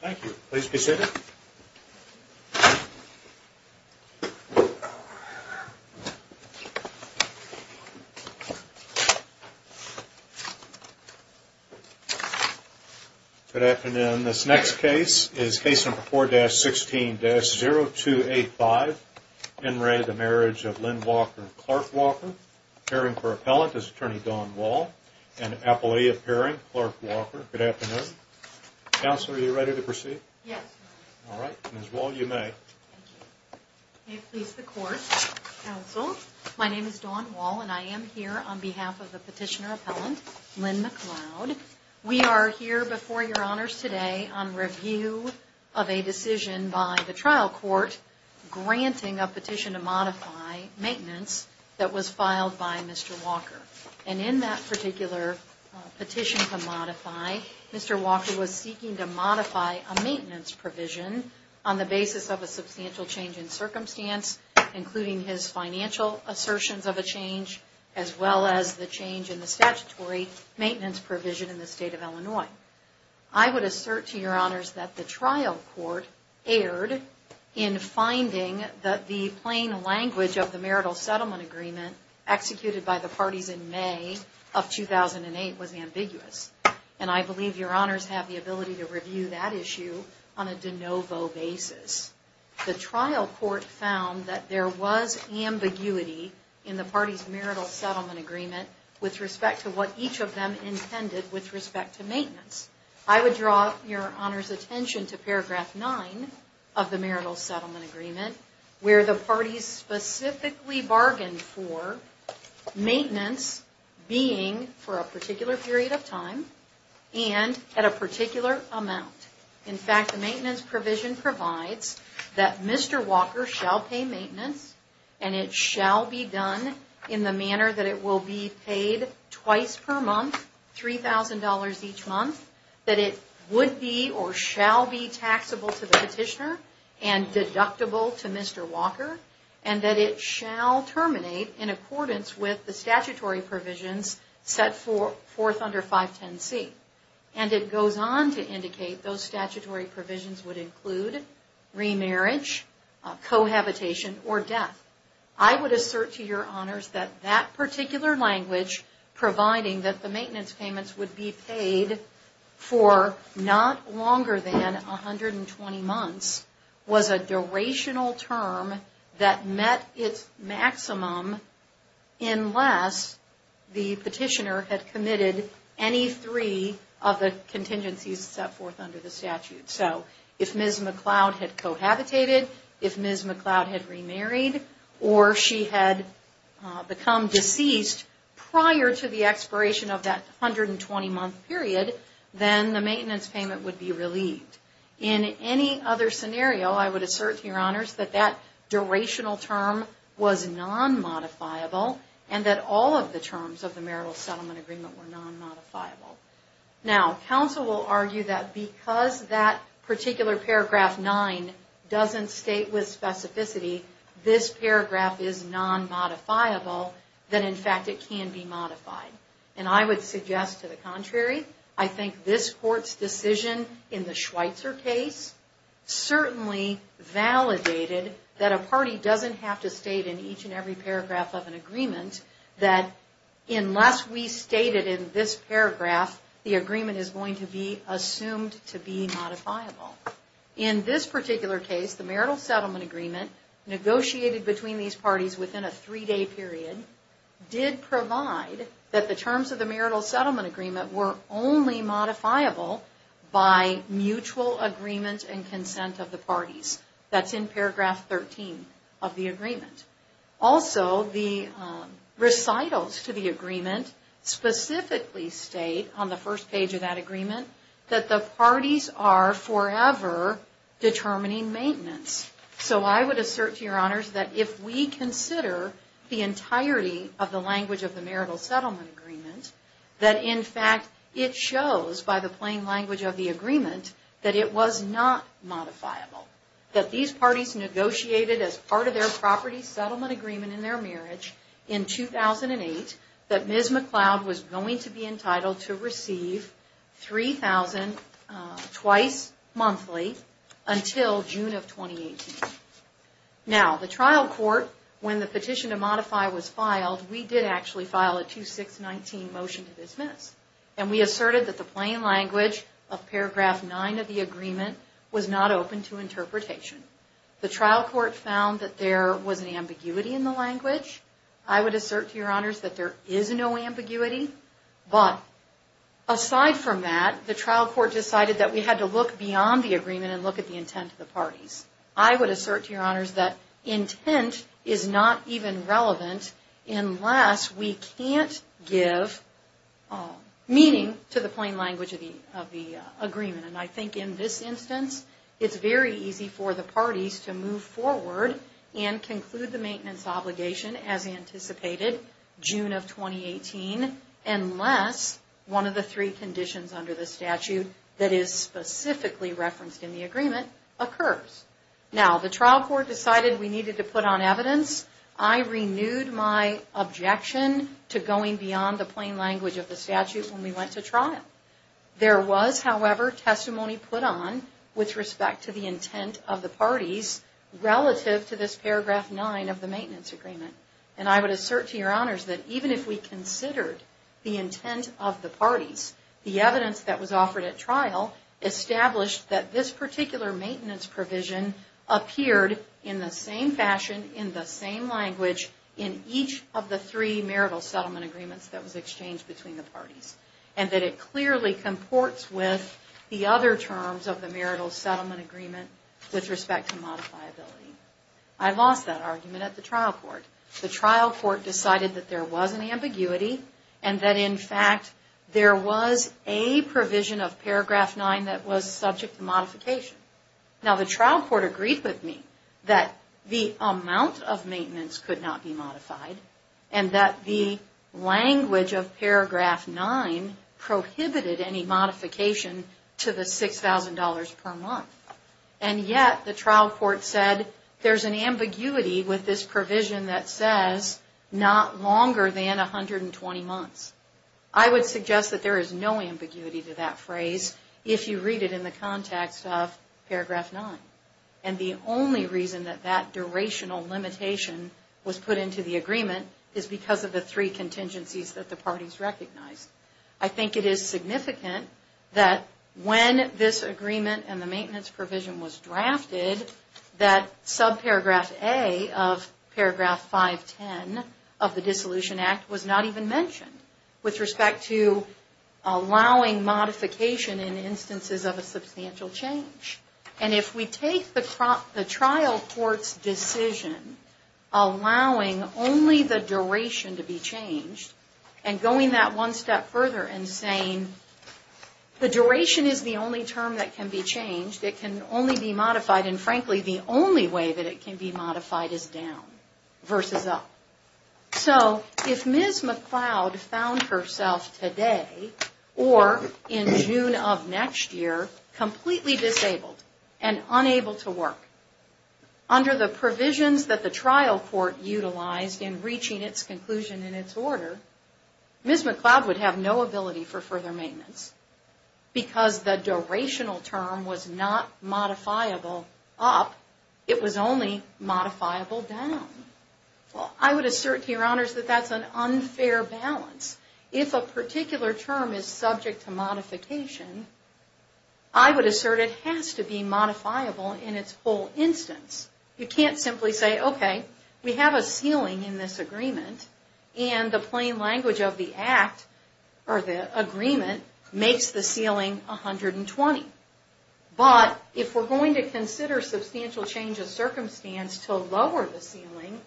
Thank you. Please be seated. Good afternoon. This next case is Case number 4-16-0285 In re the Marriage of Lynn Walker and Clark Walker. Pairing for Appellant is Attorney Dawn Wall and Appellee of Pairing, Clark Walker. Good afternoon. Counselor, are you ready to proceed? Yes. Alright. Ms. Wall, you may. May it please the Court. Counsel, my name is Dawn Wall and I am here on behalf of the Petitioner Appellant, Lynn McLeod. We are here before your Honors today on review of a decision by the trial court granting a petition to modify maintenance that was filed by Mr. Walker. And in that particular petition to modify, Mr. Walker was seeking to modify a maintenance provision on the basis of a substantial change in circumstance, including his financial assertions of a change as well as the change in the statutory maintenance provision in the State of Illinois. I would assert to your Honors that the trial court erred in finding that the plain language of the Marital Settlement Agreement executed by the parties in May of 2008 was ambiguous. And I believe your Honors have the ability to review that issue on a de novo basis. The trial court found that there was ambiguity in the parties' Marital Settlement Agreement with respect to what each of them intended with respect to maintenance. I would draw your Honors attention to paragraph 9 of the Marital Settlement Agreement. The parties specifically bargained for maintenance being for a particular period of time and at a particular amount. In fact, the maintenance provision provides that Mr. Walker shall pay maintenance and it shall be done in the manner that it will be paid twice per month, $3,000 each month, that it would be or shall be taxable to the petitioner and deductible to Mr. Walker, and that it shall terminate in accordance with the statutory provisions set forth under 510C. And it goes on to indicate those statutory provisions would include remarriage, cohabitation, or death. I would assert to your Honors that that particular language, providing that the maintenance payments would be paid for not longer than 120 months, was a durational term that met its maximum unless the petitioner had committed any three of the contingencies set forth under the statute. So, if Ms. McLeod had cohabitated, if Ms. McLeod had remarried, or she had become deceased prior to the expiration of that 120-month period, then the in any other scenario, I would assert to your Honors that that durational term was non-modifiable and that all of the terms of the Marital Settlement Agreement were non-modifiable. Now, counsel will argue that because that particular paragraph 9 doesn't state with specificity this paragraph is non-modifiable, that in fact it can be modified. And I would suggest to the contrary, I think this Court's decision in the Schweitzer case certainly validated that a party doesn't have to state in each and every paragraph of an agreement that unless we state it in this paragraph, the agreement is going to be assumed to be modifiable. In this particular case, the Marital Settlement Agreement negotiated between these parties within a three-day period did provide that the terms of the Marital Settlement Agreement were only modifiable by mutual agreement and consent of the parties. That's in paragraph 13 of the agreement. Also, the recitals to the agreement specifically state on the first page of that agreement that the parties are forever determining maintenance. So I would assert to your Honors that if we consider the entirety of the language of the Marital Settlement Agreement that in fact it shows by the plain language of the agreement that it was not modifiable. That these parties negotiated as part of their Property Settlement Agreement in their marriage in 2008 that Ms. McLeod was going to be entitled to receive $3,000 twice monthly until June of 2018. Now, the trial court, when the petition to modify was filed, we did actually file a 2619 motion to dismiss. And we asserted that the plain language of paragraph 9 of the agreement was not open to interpretation. The trial court found that there was an ambiguity in the language. I would assert to your Honors that there is no ambiguity. But aside from that, the trial court decided that we had to look beyond the agreement and look at the intent of the parties. I would assert to your Honors that intent is not even relevant unless we can't give meaning to the plain language of the agreement. And I think in this instance, it's very easy for the parties to move forward and conclude the maintenance obligation as anticipated June of 2018 unless one of the three conditions under the statute that is specifically referenced in the agreement occurs. Now, the trial court decided we needed to put on evidence. I renewed my objection to going beyond the plain language of the statute when we went to trial. There was, however, testimony put on with respect to the intent of the parties relative to this paragraph 9 of the maintenance agreement. And I would assert to your Honors that even if we considered the intent of the parties, the evidence that was offered at trial established that this particular maintenance provision appeared in the same fashion, in the same language in each of the three marital settlement agreements that was exchanged between the parties. And that it clearly comports with the other terms of the marital settlement agreement with respect to modifiability. I lost that argument at the trial court. The trial court decided that there was an ambiguity and that, in fact, there was a provision of paragraph 9 that was subject to modification. Now, the trial court agreed with me that the amount of maintenance could not be modified and that the language of paragraph 9 prohibited any modification to the $6,000 per month. And yet, the trial court said there's an ambiguity with this provision that says not longer than 120 months. I would suggest that there is no ambiguity to that phrase if you read it in the context of paragraph 9. And the only reason that that durational limitation was put into the agreement is because of the three contingencies that the parties recognized. I think it is significant that when this agreement and the maintenance provision was drafted, that sub-paragraph A of paragraph 510 of the Dissolution Act was not even mentioned with respect to allowing modification in instances of a substantial change. And if we take the trial court's decision allowing only the duration to be changed and going that one step further and saying the duration is the only term that can be changed, it can only be modified, and frankly the only way that it can be modified is down versus up. So, if Ms. McLeod found herself today or in June of next year completely disabled and unable to work under the provisions that the trial court utilized in reaching its conclusion and its order, Ms. McLeod would have no ability for further maintenance because the durational term was not modifiable up, it was only modifiable down. Well, I would assert, Your Honors, that that's an issue. If a particular term is subject to modification, I would assert it has to be modifiable in its whole instance. You can't simply say, okay, we have a ceiling in this agreement and the plain language of the Act, or the agreement, makes the ceiling 120. But, if we're going to consider substantial change of circumstance to lower the ceiling,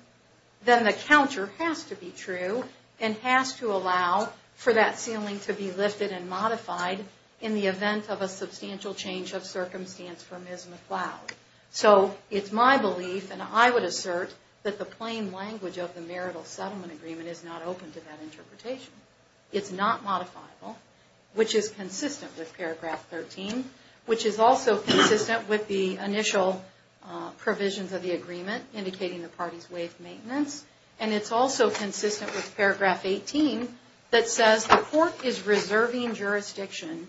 then the counter has to be true and has to allow for that ceiling to be lifted and modified in the event of a substantial change of circumstance for Ms. McLeod. So, it's my belief, and I would assert, that the plain language of the marital settlement agreement is not open to that interpretation. It's not modifiable, which is consistent with paragraph 13, which is also consistent with the initial provisions of the agreement indicating the party's way of maintenance, and it's also consistent with paragraph 18 that says the court is reserving jurisdiction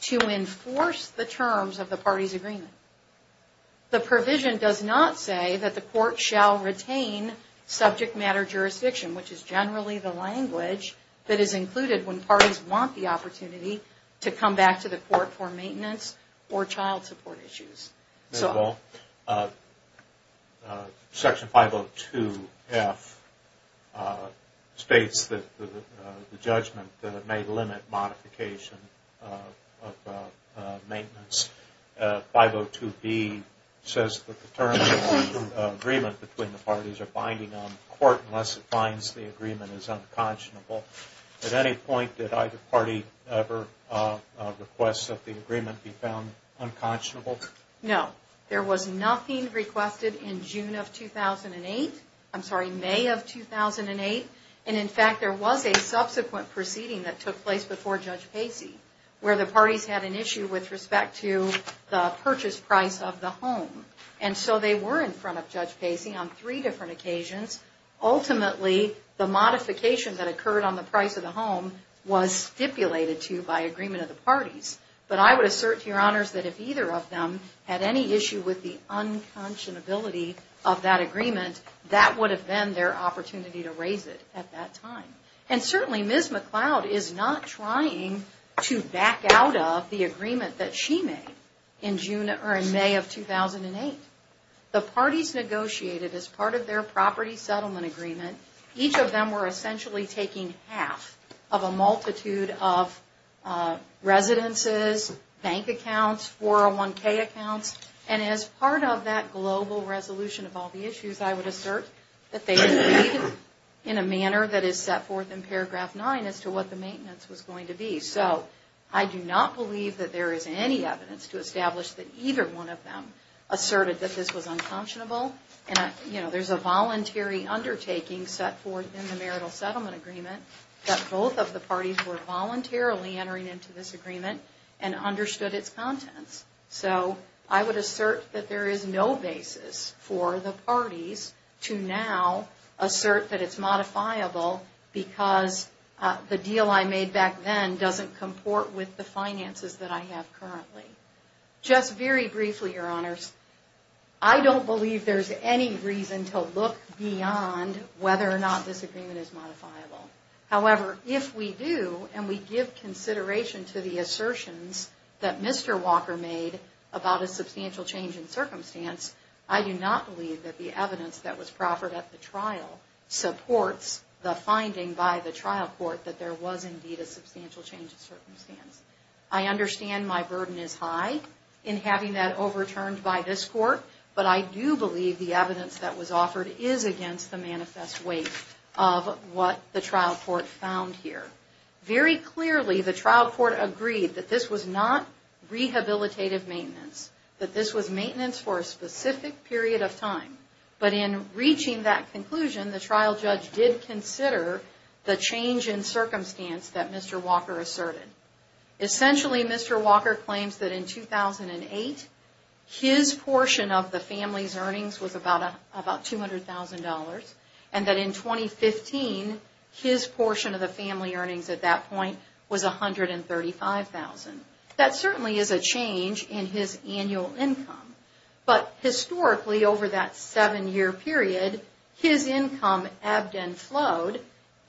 to enforce the terms of the party's agreement. The provision does not say that the court shall retain subject matter jurisdiction, which is generally the language that is included when parties want the opportunity to come back to the court for maintenance or child support issues. Section 502F states that the judgment may limit modification of maintenance. 502B says that the terms of the agreement between the parties are binding on the court unless it finds the agreement is unconscionable. At any point did either party ever request that the agreement be found unconscionable? No. There was nothing requested in June of 2008, I'm sorry, May of 2008, and in fact there was a subsequent proceeding that took place before Judge Pacey, where the parties had an issue with respect to the purchase price of the home. And so they were in front of Judge Pacey on three different occasions. Ultimately, the modification that occurred on the price of the home was stipulated to by the agreement of the parties. But I would assert, Your Honors, that if either of them had any issue with the unconscionability of that agreement, that would have been their opportunity to raise it at that time. And certainly Ms. McLeod is not trying to back out of the agreement that she made in May of 2008. The parties negotiated as part of their property settlement agreement, each of them were essentially taking half of a residences, bank accounts, 401k accounts, and as part of that global resolution of all the issues, I would assert that they agreed in a manner that is set forth in paragraph nine as to what the maintenance was going to be. So, I do not believe that there is any evidence to establish that either one of them asserted that this was unconscionable. There's a voluntary undertaking that the parties were voluntarily entering into this agreement and understood its contents. So, I would assert that there is no basis for the parties to now assert that it's modifiable because the deal I made back then doesn't comport with the finances that I have currently. Just very briefly, Your Honors, I don't believe there's any reason to look beyond whether or not this agreement is modifiable. I do, and we give consideration to the assertions that Mr. Walker made about a substantial change in circumstance. I do not believe that the evidence that was proffered at the trial supports the finding by the trial court that there was indeed a substantial change in circumstance. I understand my burden is high in having that overturned by this court, but I do believe the evidence that was offered is against the manifest weight of what the trial court found here. Very clearly, the trial court agreed that this was not rehabilitative maintenance, that this was maintenance for a specific period of time, but in reaching that conclusion, the trial judge did consider the change in circumstance that Mr. Walker asserted. Essentially, Mr. Walker claims that in 2008, his portion of the family's earnings was about $200,000, and that in 2015, his portion of the family earnings at that point was $135,000. That certainly is a change in his annual income, but historically, over that seven-year period, his income ebbed and flowed,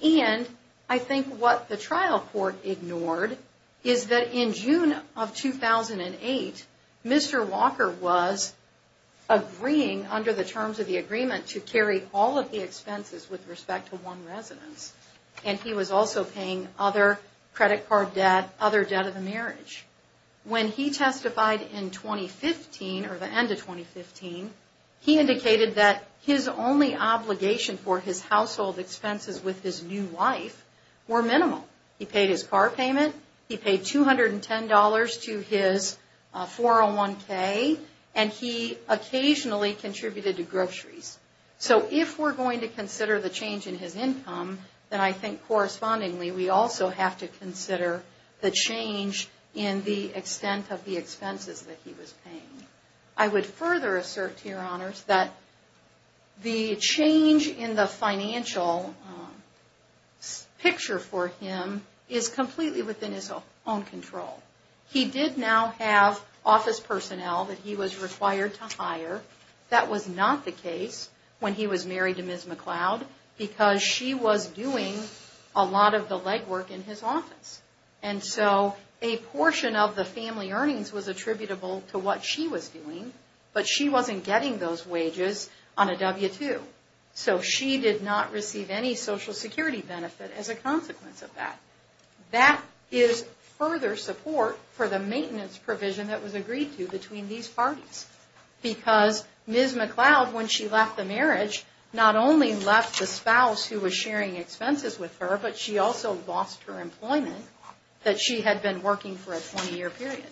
and I think what the trial court ignored is that in June of 2008, Mr. Walker was agreeing under the terms of the agreement to respect to one residence, and he was also paying other credit card debt, other debt of the marriage. When he testified in 2015, or the end of 2015, he indicated that his only obligation for his household expenses with his new wife were minimal. He paid his car payment, he paid $210 to his 401k, and he occasionally contributed to groceries. So if we're going to consider the change in his income, then I think correspondingly, we also have to consider the change in the extent of the expenses that he was paying. I would further assert, to your honors, that the change in the financial picture for him is completely within his own control. He did now have office personnel that he was required to hire. That was not the case when he was married to Ms. McLeod because she was doing a lot of the legwork in his office. And so a portion of the family earnings was attributable to what she was doing, but she wasn't getting those wages on a W-2. So she did not receive any Social Security benefit as a consequence of that. That is further support for the maintenance provision that was agreed to between these parties. Because Ms. McLeod, when she left the marriage, not only left the spouse who was sharing expenses with her, but she also lost her employment that she had been working for a 20-year period.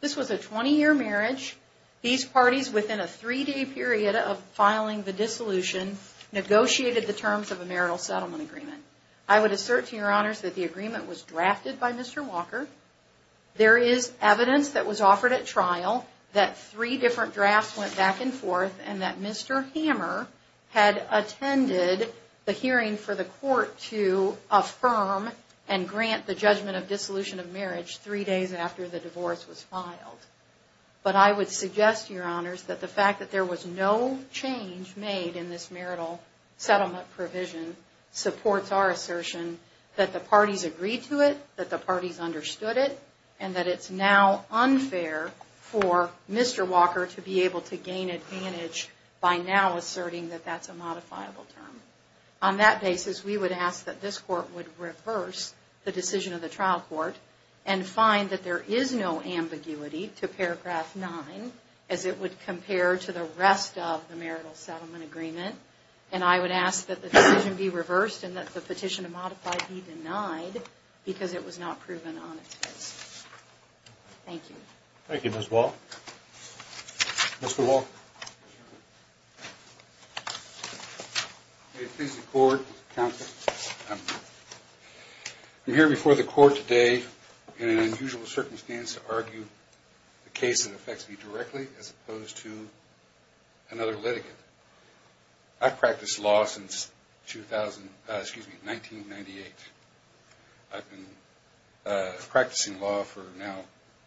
This was a 20-year marriage. These parties within a three-day period of filing the dissolution negotiated the terms of a marital settlement agreement. I would assert to your honors that the agreement was drafted by Mr. Walker. There is evidence that was offered at trial that three different drafts went back and forth and that Mr. Hammer had attended the hearing for the court to affirm and grant the judgment of dissolution of marriage three days after the divorce was filed. But I would suggest, your honors, that the fact that there was no change made in this marital settlement provision supports our assertion that the parties agreed to it, that the parties understood it, and that it's now unfair for Mr. Walker to be able to gain advantage by now asserting that that's a modifiable term. On that basis, we would ask that this court would reverse the decision of the trial court and find that there is no ambiguity to paragraph 9 as it would compare to the rest of the marital settlement agreement. And I would ask that the decision be reversed and that the petition to modify be denied because it was not proven on its face. Thank you. Thank you, Ms. Wall. Mr. Walker. May it please the court, counsel, I'm here before the court today in an unusual circumstance to argue a case that affects me directly as opposed to another litigant. I've practiced law since 1998. I've been practicing law for now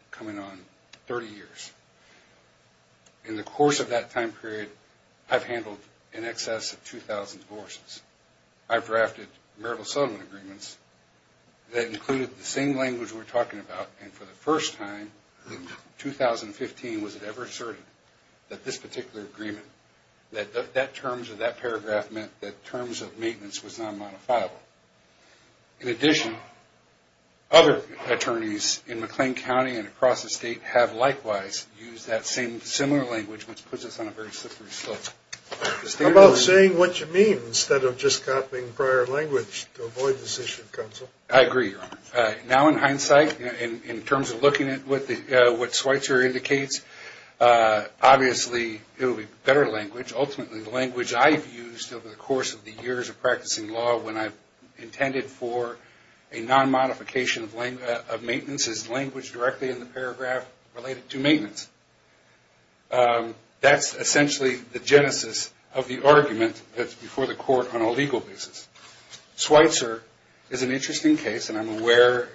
coming on 30 years. In the course of that time period, I've handled in excess of 2,000 divorces. I've drafted marital settlement agreements that included the same language we're talking about, and for the first time in 2015 was it ever asserted that this particular agreement, that terms of that paragraph meant that terms of maintenance was not modifiable. In addition, other attorneys in McLean County and across the state have likewise used that similar language which puts us on a very slippery slope. How about saying what you mean instead of just copying prior language to avoid this issue, counsel? I agree, Your Honor. Now in hindsight, in terms of looking at what Schweitzer indicates, obviously it would be better language. Ultimately, the language I've used over the course of the years of practicing law when I've intended for a non- modification of maintenance is language directly in the paragraph related to maintenance. That's essentially the genesis of the argument that's before the court on a legal basis. Schweitzer is an interesting case, and I'm aware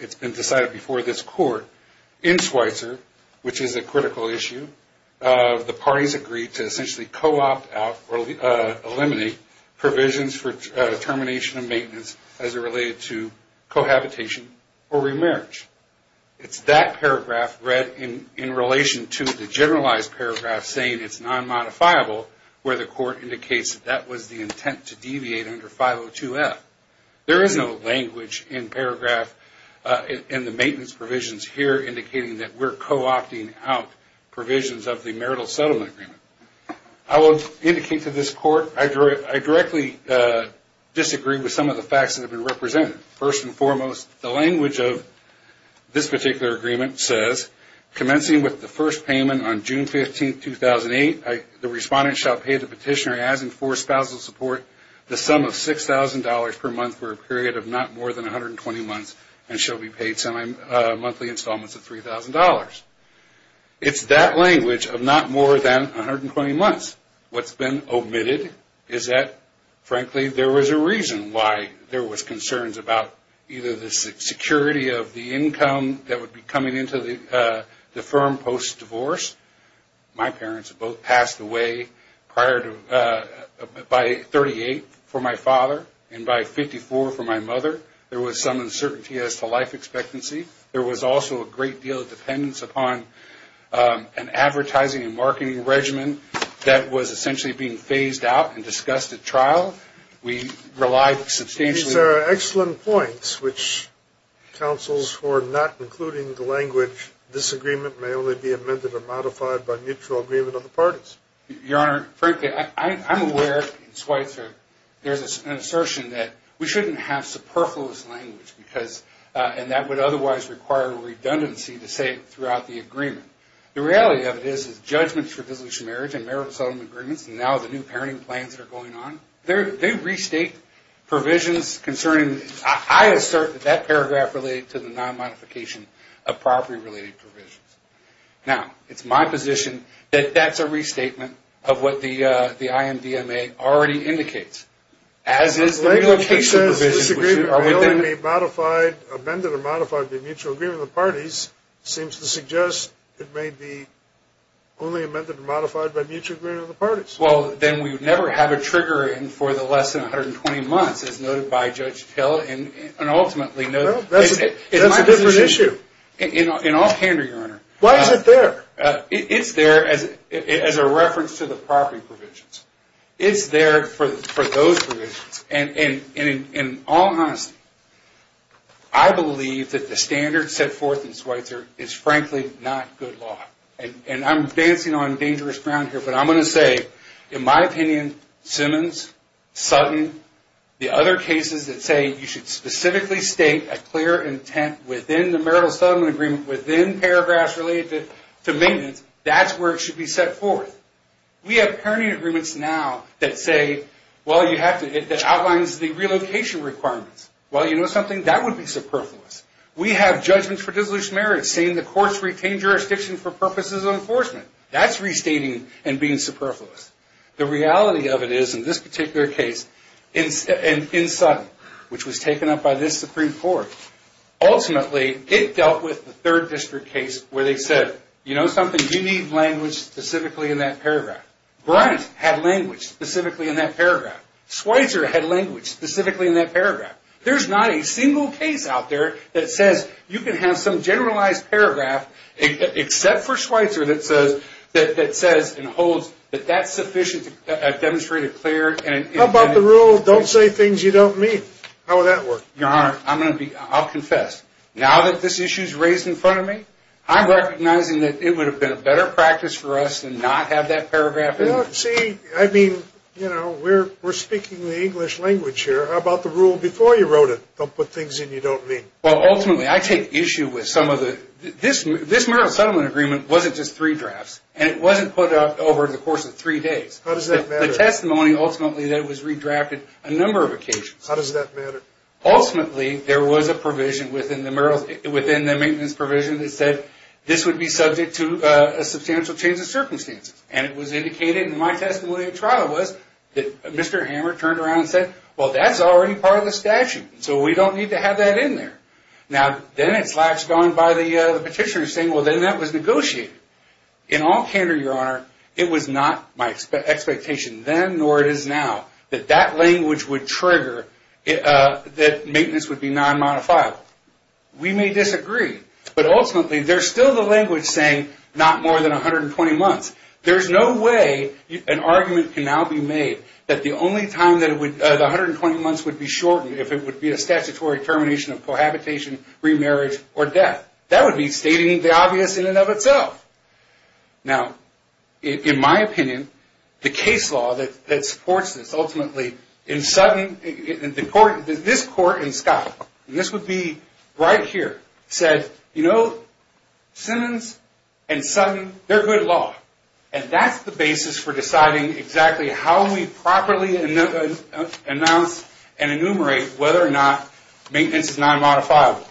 it's been decided before this court in Schweitzer, which is a critical issue. The parties agreed to essentially co-opt out or eliminate provisions for termination of maintenance as it related to cohabitation or remarriage. It's that paragraph read in relation to the generalized paragraph saying it's non-modifiable where the court indicates that that was the intent to deviate under 502F. There is no language in paragraph in the maintenance provisions here indicating that we're co-opting out provisions of the marital settlement agreement. I will indicate to this court I directly disagree with some of the facts that have been represented. First and foremost, the language of this particular agreement says commencing with the first payment on June 15, 2008, the respondent shall pay the petitioner as in for spousal support the sum of $6,000 per month for a period of not more than 120 months and shall be paid monthly installments of $3,000. It's that language of not more than 120 months. What's been omitted is that frankly there was a reason why there was concerns about either the security of the income that would be coming into the firm post-divorce. My parents both passed away by 38 for my father and by 54 for my mother. There was some uncertainty as to life expectancy. There was also a great deal of dependence upon an advertising and marketing regimen that was essentially being phased out and discussed at trial. These are excellent points which counsels for not including the language, this agreement may only be amended or modified by mutual agreement of the parties. Your Honor, frankly I'm aware there's an assertion that we shouldn't have superfluous language and that would otherwise require redundancy to say it throughout the agreement. The reality of it is judgments for divorce and marriage and marital settlement agreements and now the new parenting plans that are going on, they restate provisions concerning I assert that paragraph related to the non-modification of property-related provisions. Now, it's my position that that's a restatement of what the IMDMA already indicates, as is the relocation provision. This agreement may only be amended or modified by mutual agreement of the parties seems to suggest it may be only amended or modified by mutual agreement of the parties. Well, then we would never have a trigger for the less than 120 months as noted by Judge Hill and ultimately That's a different issue. In all candor, Your Honor. Why is it there? It's there as a reference to the property provisions. It's there for those provisions and in all honesty, I believe that the standard set forth in Schweitzer is frankly not good law. And I'm dancing on dangerous ground here, but I'm going to say in my opinion Simmons, Sutton, the other cases that say you should specifically state a clear intent within the marital settlement agreement, within paragraphs related to maintenance, that's where it should be set forth. We have parenting agreements now that say that outlines the relocation requirements. Well, you know something? That would be superfluous. We have judgments for disillusioned marriage saying the courts retain jurisdiction for purposes of enforcement. That's restating and being superfluous. The reality of it is in this particular case in Sutton, which was taken up by this Supreme Court ultimately, it dealt with the third district case where they said you know something? You need language specifically in that paragraph. Bryant had language specifically in that paragraph. Schweitzer had language specifically in that paragraph. There's not a single case out there that says you can have some generalized paragraph except for Schweitzer that says and holds that that's sufficient to demonstrate a clear intent. How about the rule, don't say things you don't mean? How would that work? Your Honor, I'll confess. Now that this issue is raised in front of me, I'm recognizing that it would have been a better practice for us to not have that paragraph in. See, I mean, you know, we're speaking the English language here. How about the rule before you wrote it, don't put things in you don't mean? Well, ultimately, I take issue with some of the this marital settlement agreement wasn't just three drafts and it wasn't put up over the course of three days. How does that matter? The testimony ultimately that it was redrafted a number of occasions. How does that matter? Ultimately, there was a provision within the maintenance provision that said this would be subject to a substantial change of circumstances. And it was indicated in my testimony at trial was that Mr. Hammer turned around and said, well, that's already part of the statute, so we don't need to have that in there. Now, then it's latched on by the petitioner saying, well, then that was negotiated. In all candor, Your Honor, it was not my expectation then nor it is now that that language would trigger that maintenance would be non-modifiable. We may disagree, but ultimately, there's still the language saying not more than 120 months. There's no way an argument can now be made that the 120 months would be shortened if it would be a statutory termination of cohabitation, remarriage, or death. That would be stating the obvious in and of itself. Now, in my opinion, the case law that supports this ultimately in Sutton, this court in Scott, this would be right here, said, you know, Simmons and Sutton, they're good law. And that's the basis for deciding exactly how we properly announce and enumerate whether or not maintenance is non-modifiable.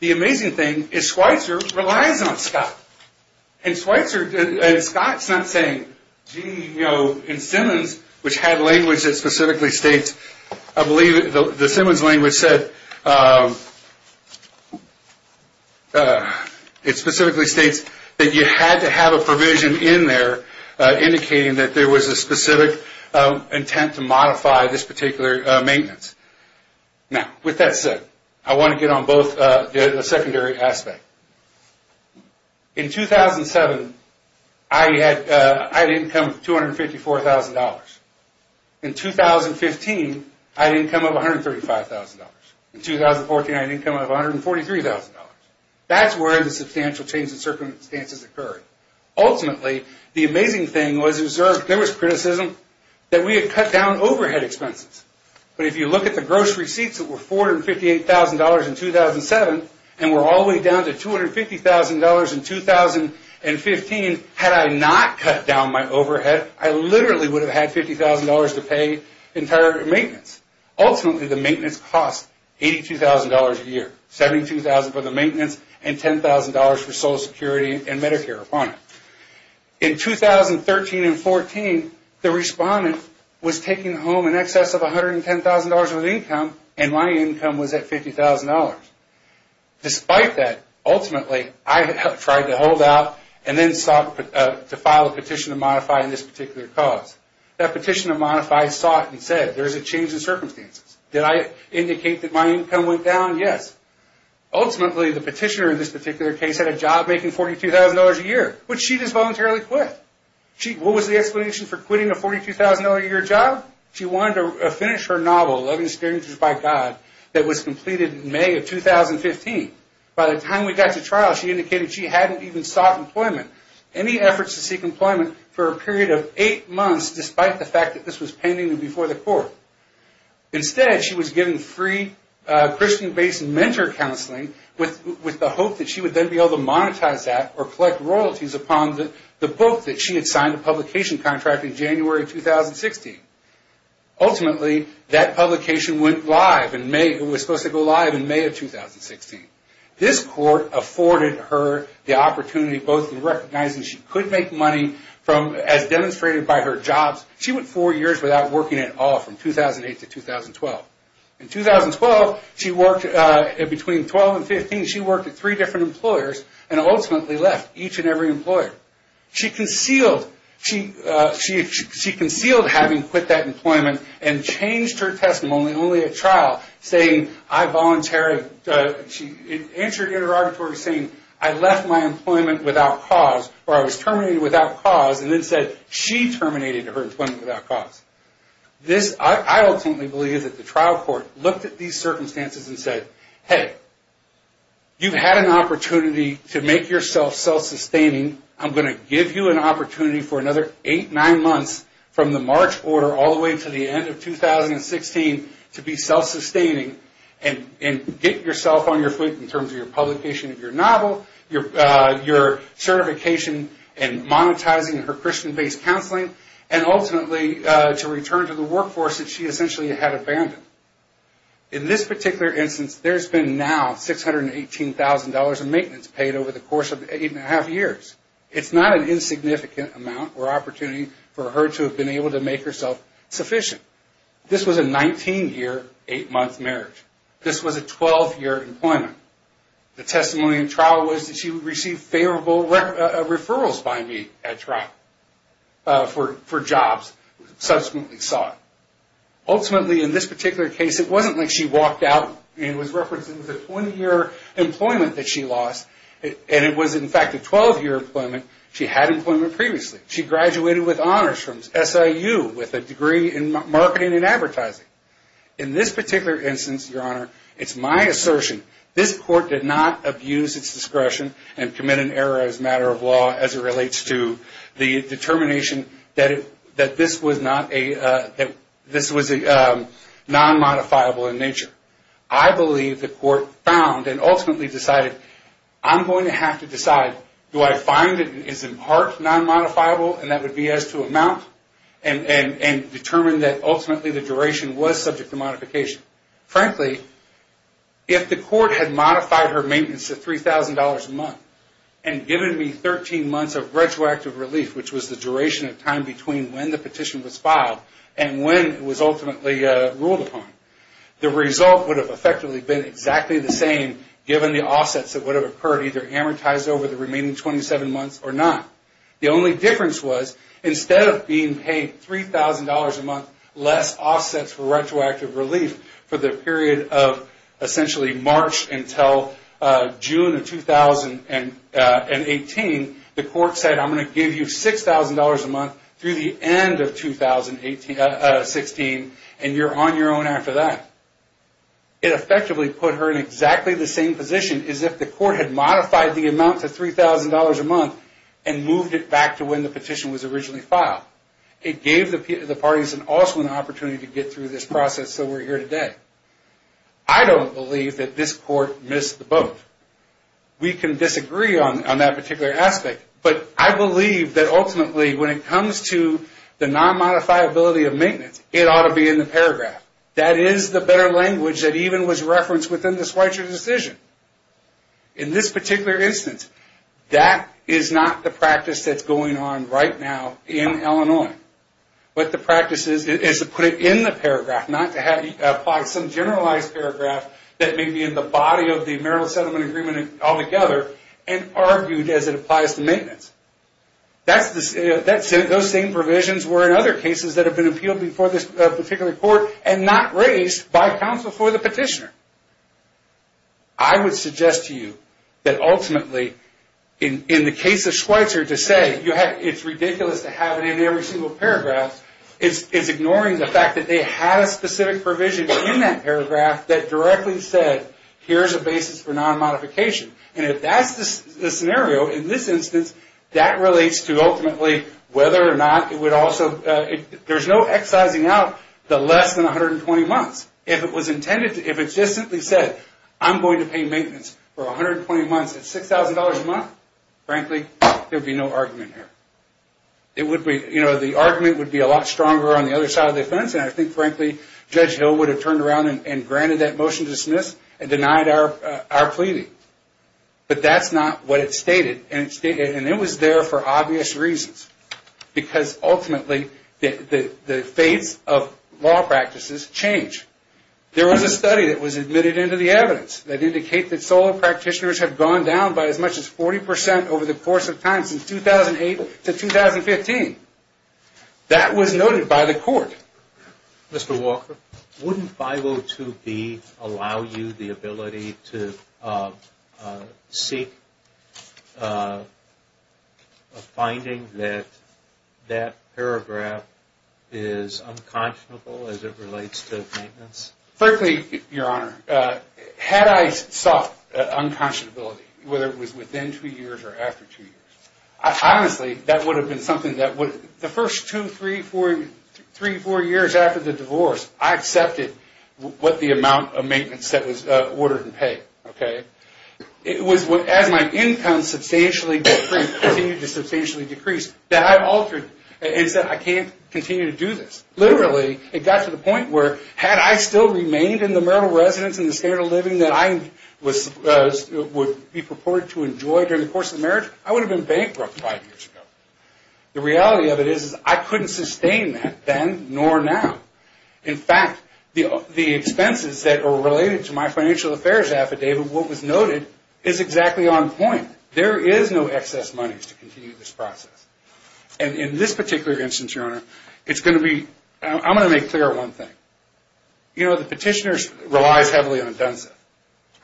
The amazing thing is Schweitzer relies on Scott. And Scott's not saying, gee, you know, in specific states, I believe the Simmons language said it specifically states that you had to have a provision in there indicating that there was a specific intent to modify this particular maintenance. Now, with that said, I want to get on both the secondary aspect. In 2007, I had income of $254,000. In 2015, I had income of $135,000. In 2014, I had income of $143,000. That's where the substantial change in circumstances occurred. Ultimately, the amazing thing was there was criticism that we had cut down overhead expenses. But if you look at the gross receipts that were $458,000 in 2007 and were all the way down to $250,000 in 2015, had I not cut down my overhead, I literally would have had $50,000 to pay entire maintenance. Ultimately, the maintenance cost $82,000 a year. $72,000 for the maintenance and $10,000 for Social Security and Medicare. In 2013 and 2014, the respondent was taking home in excess of $110,000 of income and my income was at $50,000. Despite that, ultimately, I tried to hold out and then sought to file a Petition of Modify in this particular cause. That Petition of Modify sought and said, there's a change in circumstances. Did I indicate that my income went down? Yes. Ultimately, the petitioner in this particular case had a job making $42,000 a year, which she just voluntarily quit. What was the explanation for quitting a $42,000 a year job? She wanted to finish her novel, Loving Strangers by God, that was completed in May of 2015. By the time we got to trial, she indicated she hadn't even sought employment. Any efforts to seek employment for a period of eight months, despite the fact that this was pending before the court. Instead, she was given free Christian-based mentor counseling with the hope that she would then be able to monetize that or collect royalties upon the book that she had signed a publication contract in January of 2016. Ultimately, that publication went live in May. It was supposed to go live in May of 2016. This court afforded her the opportunity, both in recognizing she could make money as demonstrated by her jobs. She went four years without working at all from 2008 to 2012. In 2012, between 12 and 15, she worked at three different employers and ultimately left each and every employer. She concealed having quit that employment and changed her testimony only at trial, saying I voluntarily, she answered interrogatory saying I left my employment without cause, or I was terminated without cause and then said she terminated her employment without cause. I ultimately believe that the trial court looked at these circumstances and said hey, you've had an opportunity to make yourself self-sustaining. I'm going to give you an opportunity for another eight, nine months from the March order all the way to the end of 2016 to be self-sustaining and get yourself on your feet in terms of your publication of your novel, your certification and monetizing her Christian-based counseling and ultimately to return to the workforce that she essentially had abandoned. In this particular instance, there's been now $618,000 in maintenance paid over the course of eight and a half years. It's not an insignificant amount or opportunity for her to have been able to make herself sufficient. This was a 19-year, eight-month marriage. This was a 12-year employment. The testimony in trial was that she would receive favorable referrals by me at trial for jobs subsequently sought. Ultimately, in this particular case, it wasn't like she walked out and was referencing the 20-year employment that she lost and it was in fact a 12-year employment. She had employment previously. She graduated with honors from SIU with a degree in marketing and advertising. In this particular instance, Your Honor, it's my assertion, this court did not abuse its discretion and commit an error as a matter of law as it relates to the determination that this was non-modifiable in nature. I believe the court found and ultimately decided I'm going to have to decide, do I find it is in part non-modifiable and that would be as to amount and determine that ultimately the duration was subject to modification. Frankly, if the court had modified her maintenance to $3,000 a month and given me 13 months of retroactive relief, which was the duration of time between when the petition was filed and when it was ultimately ruled upon, the result would have effectively been exactly the same given the offsets that would have occurred either amortized over the period. The only difference was instead of being paid $3,000 a month less offsets for retroactive relief for the period of essentially March until June of 2018, the court said I'm going to give you $6,000 a month through the end of 2016 and you're on your own after that. It effectively put her in exactly the same position as if the court had modified the amount to $3,000 a month and moved it back to when the petition was originally filed. It gave the parties also an opportunity to get through this process so we're here today. I don't believe that this court missed the boat. We can disagree on that particular aspect, but I believe that ultimately when it comes to the non-modifiability of maintenance, it ought to be in the paragraph. That is the better language that even was referenced within the Schweitzer decision. In this particular instance, that is not the practice that's going on right now in Illinois. What the practice is, is to put it in the paragraph, not to apply some generalized paragraph that may be in the body of the marital settlement agreement altogether and argued as it applies to maintenance. Those same provisions were in other cases that have been appealed before this particular court and not raised by counsel for the petitioner. I would suggest to you that ultimately in the case of Schweitzer, to say it's ridiculous to have it in every single paragraph is ignoring the fact that they had a specific provision in that paragraph that directly said here's a basis for non-modification. If that's the scenario in this instance, that relates to ultimately whether or not it would also there's no excising out the less than 120 months. If it was intended, if it just simply said I'm going to pay maintenance for 120 months at $6,000 a month, frankly there would be no argument here. The argument would be a lot stronger on the other side of the fence and I think frankly Judge Hill would have turned around and granted that motion to dismiss and denied our pleading. But that's not what it stated and it was there for obvious reasons because ultimately the faiths of law practices change. There was a study that was admitted into the evidence that indicated that solo practitioners have gone down by as much as 40% over the course of time since 2008 to 2015. That was noted by the court. Mr. Walker, wouldn't 502B allow you the ability to seek a finding that that paragraph is unconscionable as it relates to maintenance? Frankly, Your Honor, had I sought unconscionability, whether it was within two years or after two years, honestly that would have been something that would, the first two, three, four years after the divorce I accepted what the amount of maintenance that was ordered in pay. As my income substantially decreased that I've altered and said I can't continue to do this. Literally, it got to the point where had I still remained in the marital residence and the standard of living that I would be purported to enjoy during the course of the marriage, I would have been bankrupt five years ago. The reality of it is I couldn't sustain that then nor now. In fact, the expenses that are related to my financial affairs affidavit, what was noted, is exactly on point. There is no excess money to continue this process. In this particular instance, Your Honor, I'm going to make clear one thing. The petitioner relies heavily on DUNSA.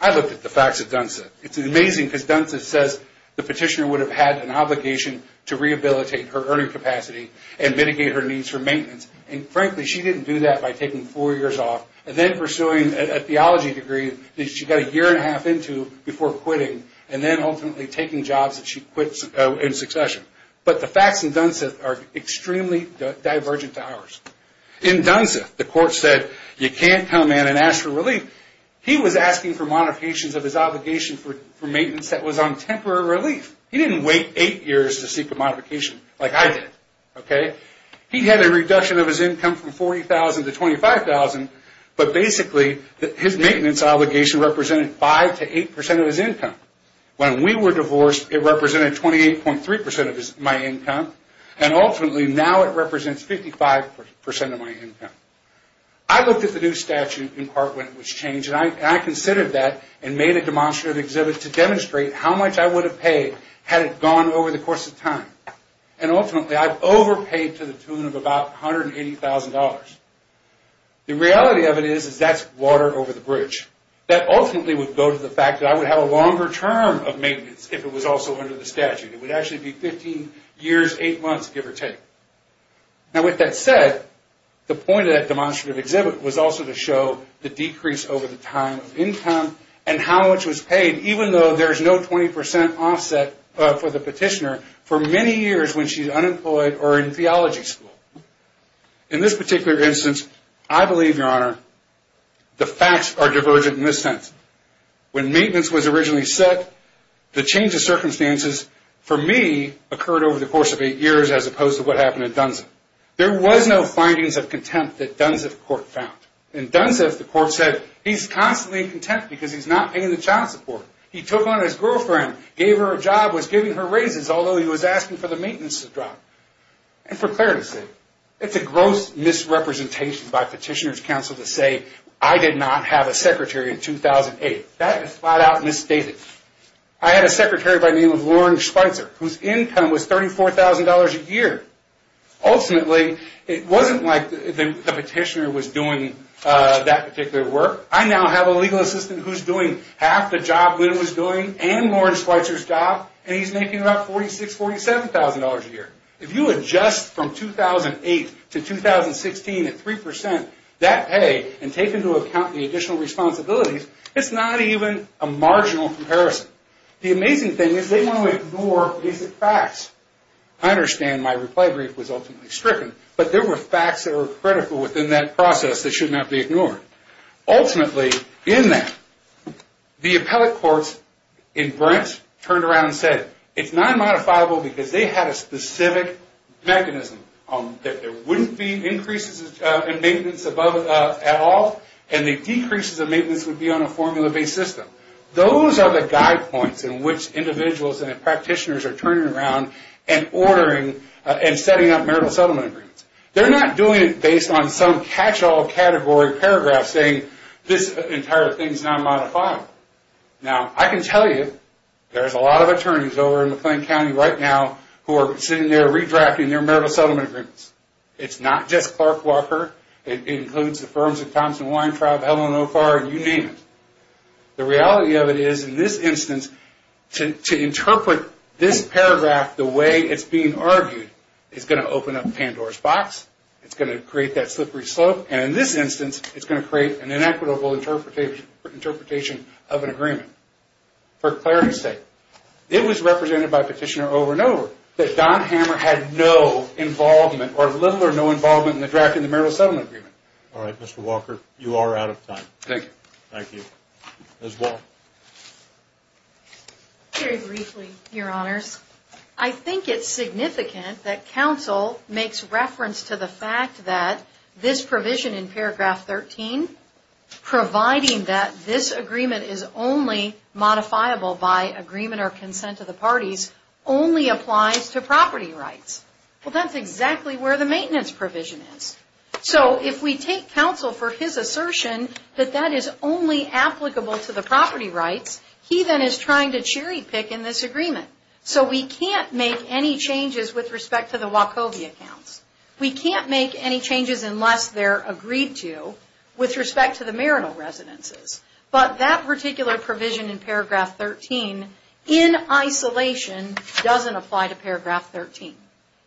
I looked at the facts of DUNSA. It's amazing because DUNSA says the petitioner would have had an obligation to rehabilitate her earning capacity and mitigate her needs for maintenance. Frankly, she didn't do that by taking four years off and then pursuing a theology degree that she got a year and a half into before quitting and then ultimately taking jobs that she quit in succession. The facts in DUNSA are extremely divergent to ours. In DUNSA, the court said you can't come in and ask for relief. He was asking for modifications of his obligation for maintenance that was on temporary relief. He didn't wait eight years to seek a modification like I did. He had a reduction of his income from $40,000 to $25,000, but basically his maintenance obligation represented 5% to 8% of his income. When we were divorced, it represented 28.3% of my income. Ultimately, now it represents 55% of my income. I looked at the new statute in part when it was changed and I considered that and made a demonstrative exhibit to demonstrate how much I would have paid had it gone over the course of time. Ultimately, I overpaid to the tune of about $180,000. The reality of it is that's water over the bridge. That ultimately would go to the fact that I would have a longer term of maintenance if it was also under the statute. It would actually be 15 years, 8 months, give or take. With that said, the point of that demonstrative exhibit was also to show the decrease over the time of income and how much was paid even though there's no 20% offset for the petitioner for many years when she's unemployed or in theology school. In this particular instance, I believe, Your Honor, the facts are divergent in this sense. When maintenance was originally set, the change of circumstances for me occurred over the course of 8 years as opposed to what happened in Dunsif. There was no findings of contempt that Dunsif court found. In Dunsif, the court said he's constantly in contempt because he's not paying the child support. He took on his girlfriend, gave her a job, was giving her raises although he was asking for the maintenance to drop. For clarity's sake, it's a gross misrepresentation by petitioner's counsel to say I did not have a secretary in 2008. That is flat out misstated. I had a secretary by the name of Lawrence Schweitzer whose income was $34,000 a year. Ultimately, it wasn't like the petitioner was doing that particular work. I now have a legal assistant who's doing half the job Lynn was doing and Lawrence Schweitzer's job and he's making about $46,000, $47,000 a year. If you adjust from 2008 to 2016 at 3% that pay and take into account the additional responsibilities, it's not even a marginal comparison. The amazing thing is they want to ignore basic facts. I understand my reply brief was ultimately stricken but there were facts that were critical within that process that should not be ignored. Ultimately, in that the appellate courts in Brent turned around and said it's non-modifiable because they had a specific mechanism that there wouldn't be increases in maintenance at all and the decreases in maintenance would be on a formula-based system. Those are the guide points in which individuals and practitioners are turning around and ordering and setting up marital settlement agreements. They're not doing it based on some catch-all category paragraph saying this entire thing's non-modifiable. I can tell you there's a lot of attorneys over in McLean County right now who are sitting there redrafting their marital settlement agreements. It's not just Clark Walker. It includes the firms of Thompson Weintraub, Helen O'Farr, and you name it. The reality of it is, in this instance, to interpret this paragraph the way it's being argued is going to open up Pandora's box. It's going to create that slippery slope and in this instance, it's going to create an inequitable interpretation of an agreement. For clarity's sake, it was represented by Petitioner over and over that Don Hammer had no involvement or little or no involvement in the drafting of the marital settlement agreement. Alright, Mr. Walker. You are out of time. Thank you. Ms. Wall. Very briefly, Your Honors. I think it's significant that counsel makes reference to the fact that this provision in paragraph 13 providing that this agreement is only modifiable by agreement or consent of the parties, only applies to property rights. Well, that's exactly where the maintenance provision is. So, if we take counsel for his assertion that that is only applicable to the property rights, he then is trying to cherry pick in this agreement. So, we can't make any changes with respect to the Wachovia counts. We can't make any changes unless they're agreed to with respect to the marital residences. But that particular provision in paragraph 13, in isolation, doesn't apply to paragraph 13.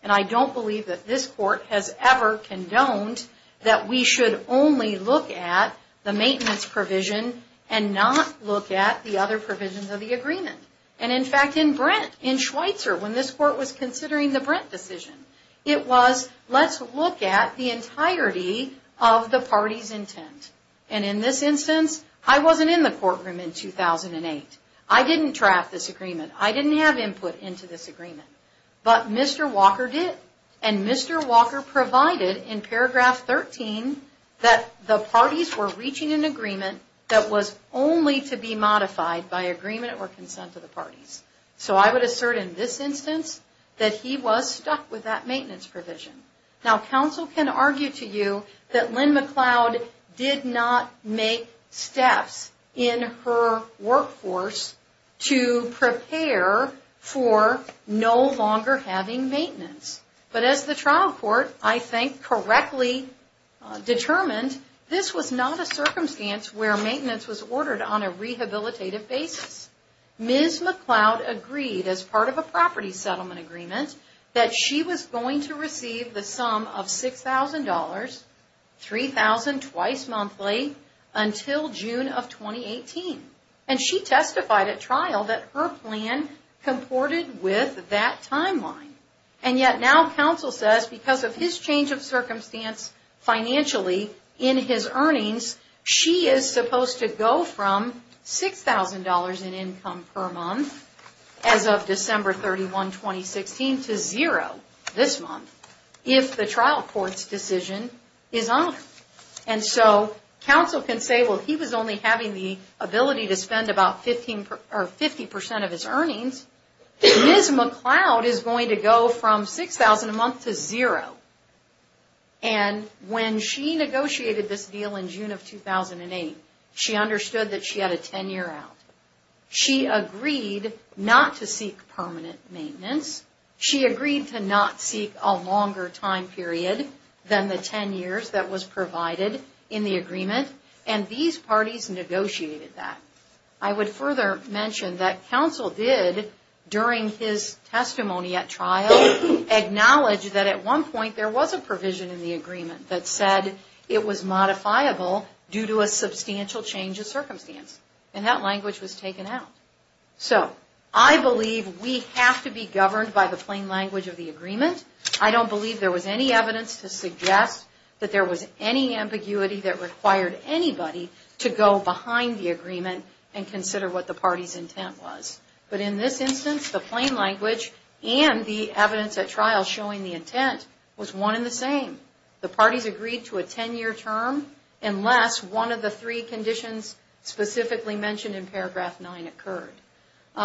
And I don't believe that this Court has ever condoned that we should only look at the maintenance provision and not look at the other provisions of the agreement. And in fact, in Brent, in Schweitzer, when this Court was considering the Brent decision, it was let's look at the entirety of the party's intent. And in this instance, I wasn't in the courtroom in 2008. I didn't draft this agreement. I didn't have input into this agreement. But Mr. Walker did. And Mr. Walker provided in paragraph 13 that the parties were reaching an agreement that was only to be modified by agreement or consent of the parties. So, I would assert in this instance that he was stuck with that maintenance provision. Now, counsel can argue to you that Lynn McLeod did not make steps in her workforce to prepare for no longer having maintenance. But as the trial court, I think, correctly determined, this was not a circumstance where maintenance was ordered on a rehabilitative basis. Ms. McLeod agreed, as part of a property settlement agreement, that she was going to receive the sum of $6,000, $3,000 twice monthly until June of 2018. And she testified at trial that her plan comported with that timeline. And yet now, counsel says, because of his change of circumstance financially in his earnings, she is supposed to go from $6,000 in income per month as of December 31, 2016 to $0 this month if the trial court's decision is honored. And so, counsel can say, well, he was only having the ability to spend about 50% of his earnings. Ms. McLeod is going to go from $6,000 a month to $0. And when she negotiated this deal in June of 2008, she understood that she had a 10-year out. She agreed not to seek permanent maintenance. She agreed to not seek a longer time period than the 10 years that was provided in the agreement. And these parties negotiated that. I would further mention that counsel did, during his testimony at trial, acknowledge that at one point there was a provision in the agreement that said it was modifiable due to a substantial change of circumstance. And that language was taken out. So, I believe we have to be governed by the plain language of the agreement. I don't believe there was any evidence to suggest that there was any ambiguity that required anybody to go behind the agreement and consider what the party's intent was. But in this instance, the plain language and the evidence at trial showing the intent was one and the same. The parties agreed to a 10-year term unless one of the three conditions specifically mentioned in paragraph 9 occurred.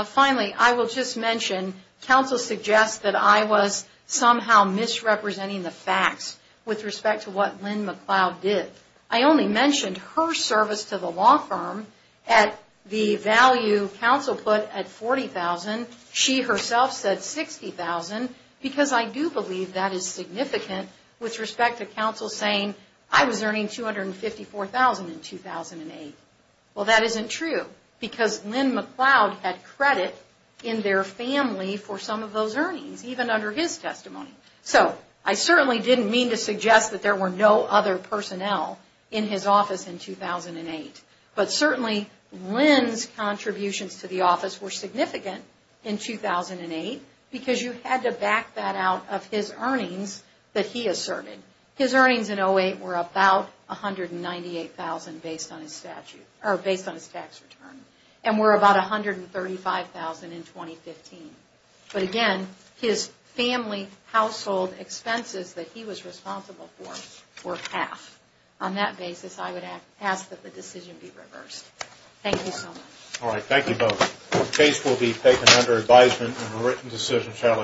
Finally, I will just mention, counsel suggests that I was somehow misrepresenting the facts with respect to what Lynn McLeod did. I only mentioned her service to the law firm at the value counsel put at $40,000. She herself said $60,000 because I do believe that is significant with respect to counsel saying I was earning $254,000 in 2008. Well, that isn't true because Lynn McLeod had credit in their family for some of those earnings, even under his testimony. So, I certainly didn't mean to suggest that there were no other personnel in his office in 2008. But certainly Lynn's contributions to the office were significant in 2008 because you had to back that out of his earnings that he asserted. His earnings in 2008 were about $198,000 based on his tax return and were about $135,000 in 2015. But again, his family household expenses that he was responsible for, were half. On that basis, I would Alright, thank you both. The case will be taken under advisement and a written decision shall issue.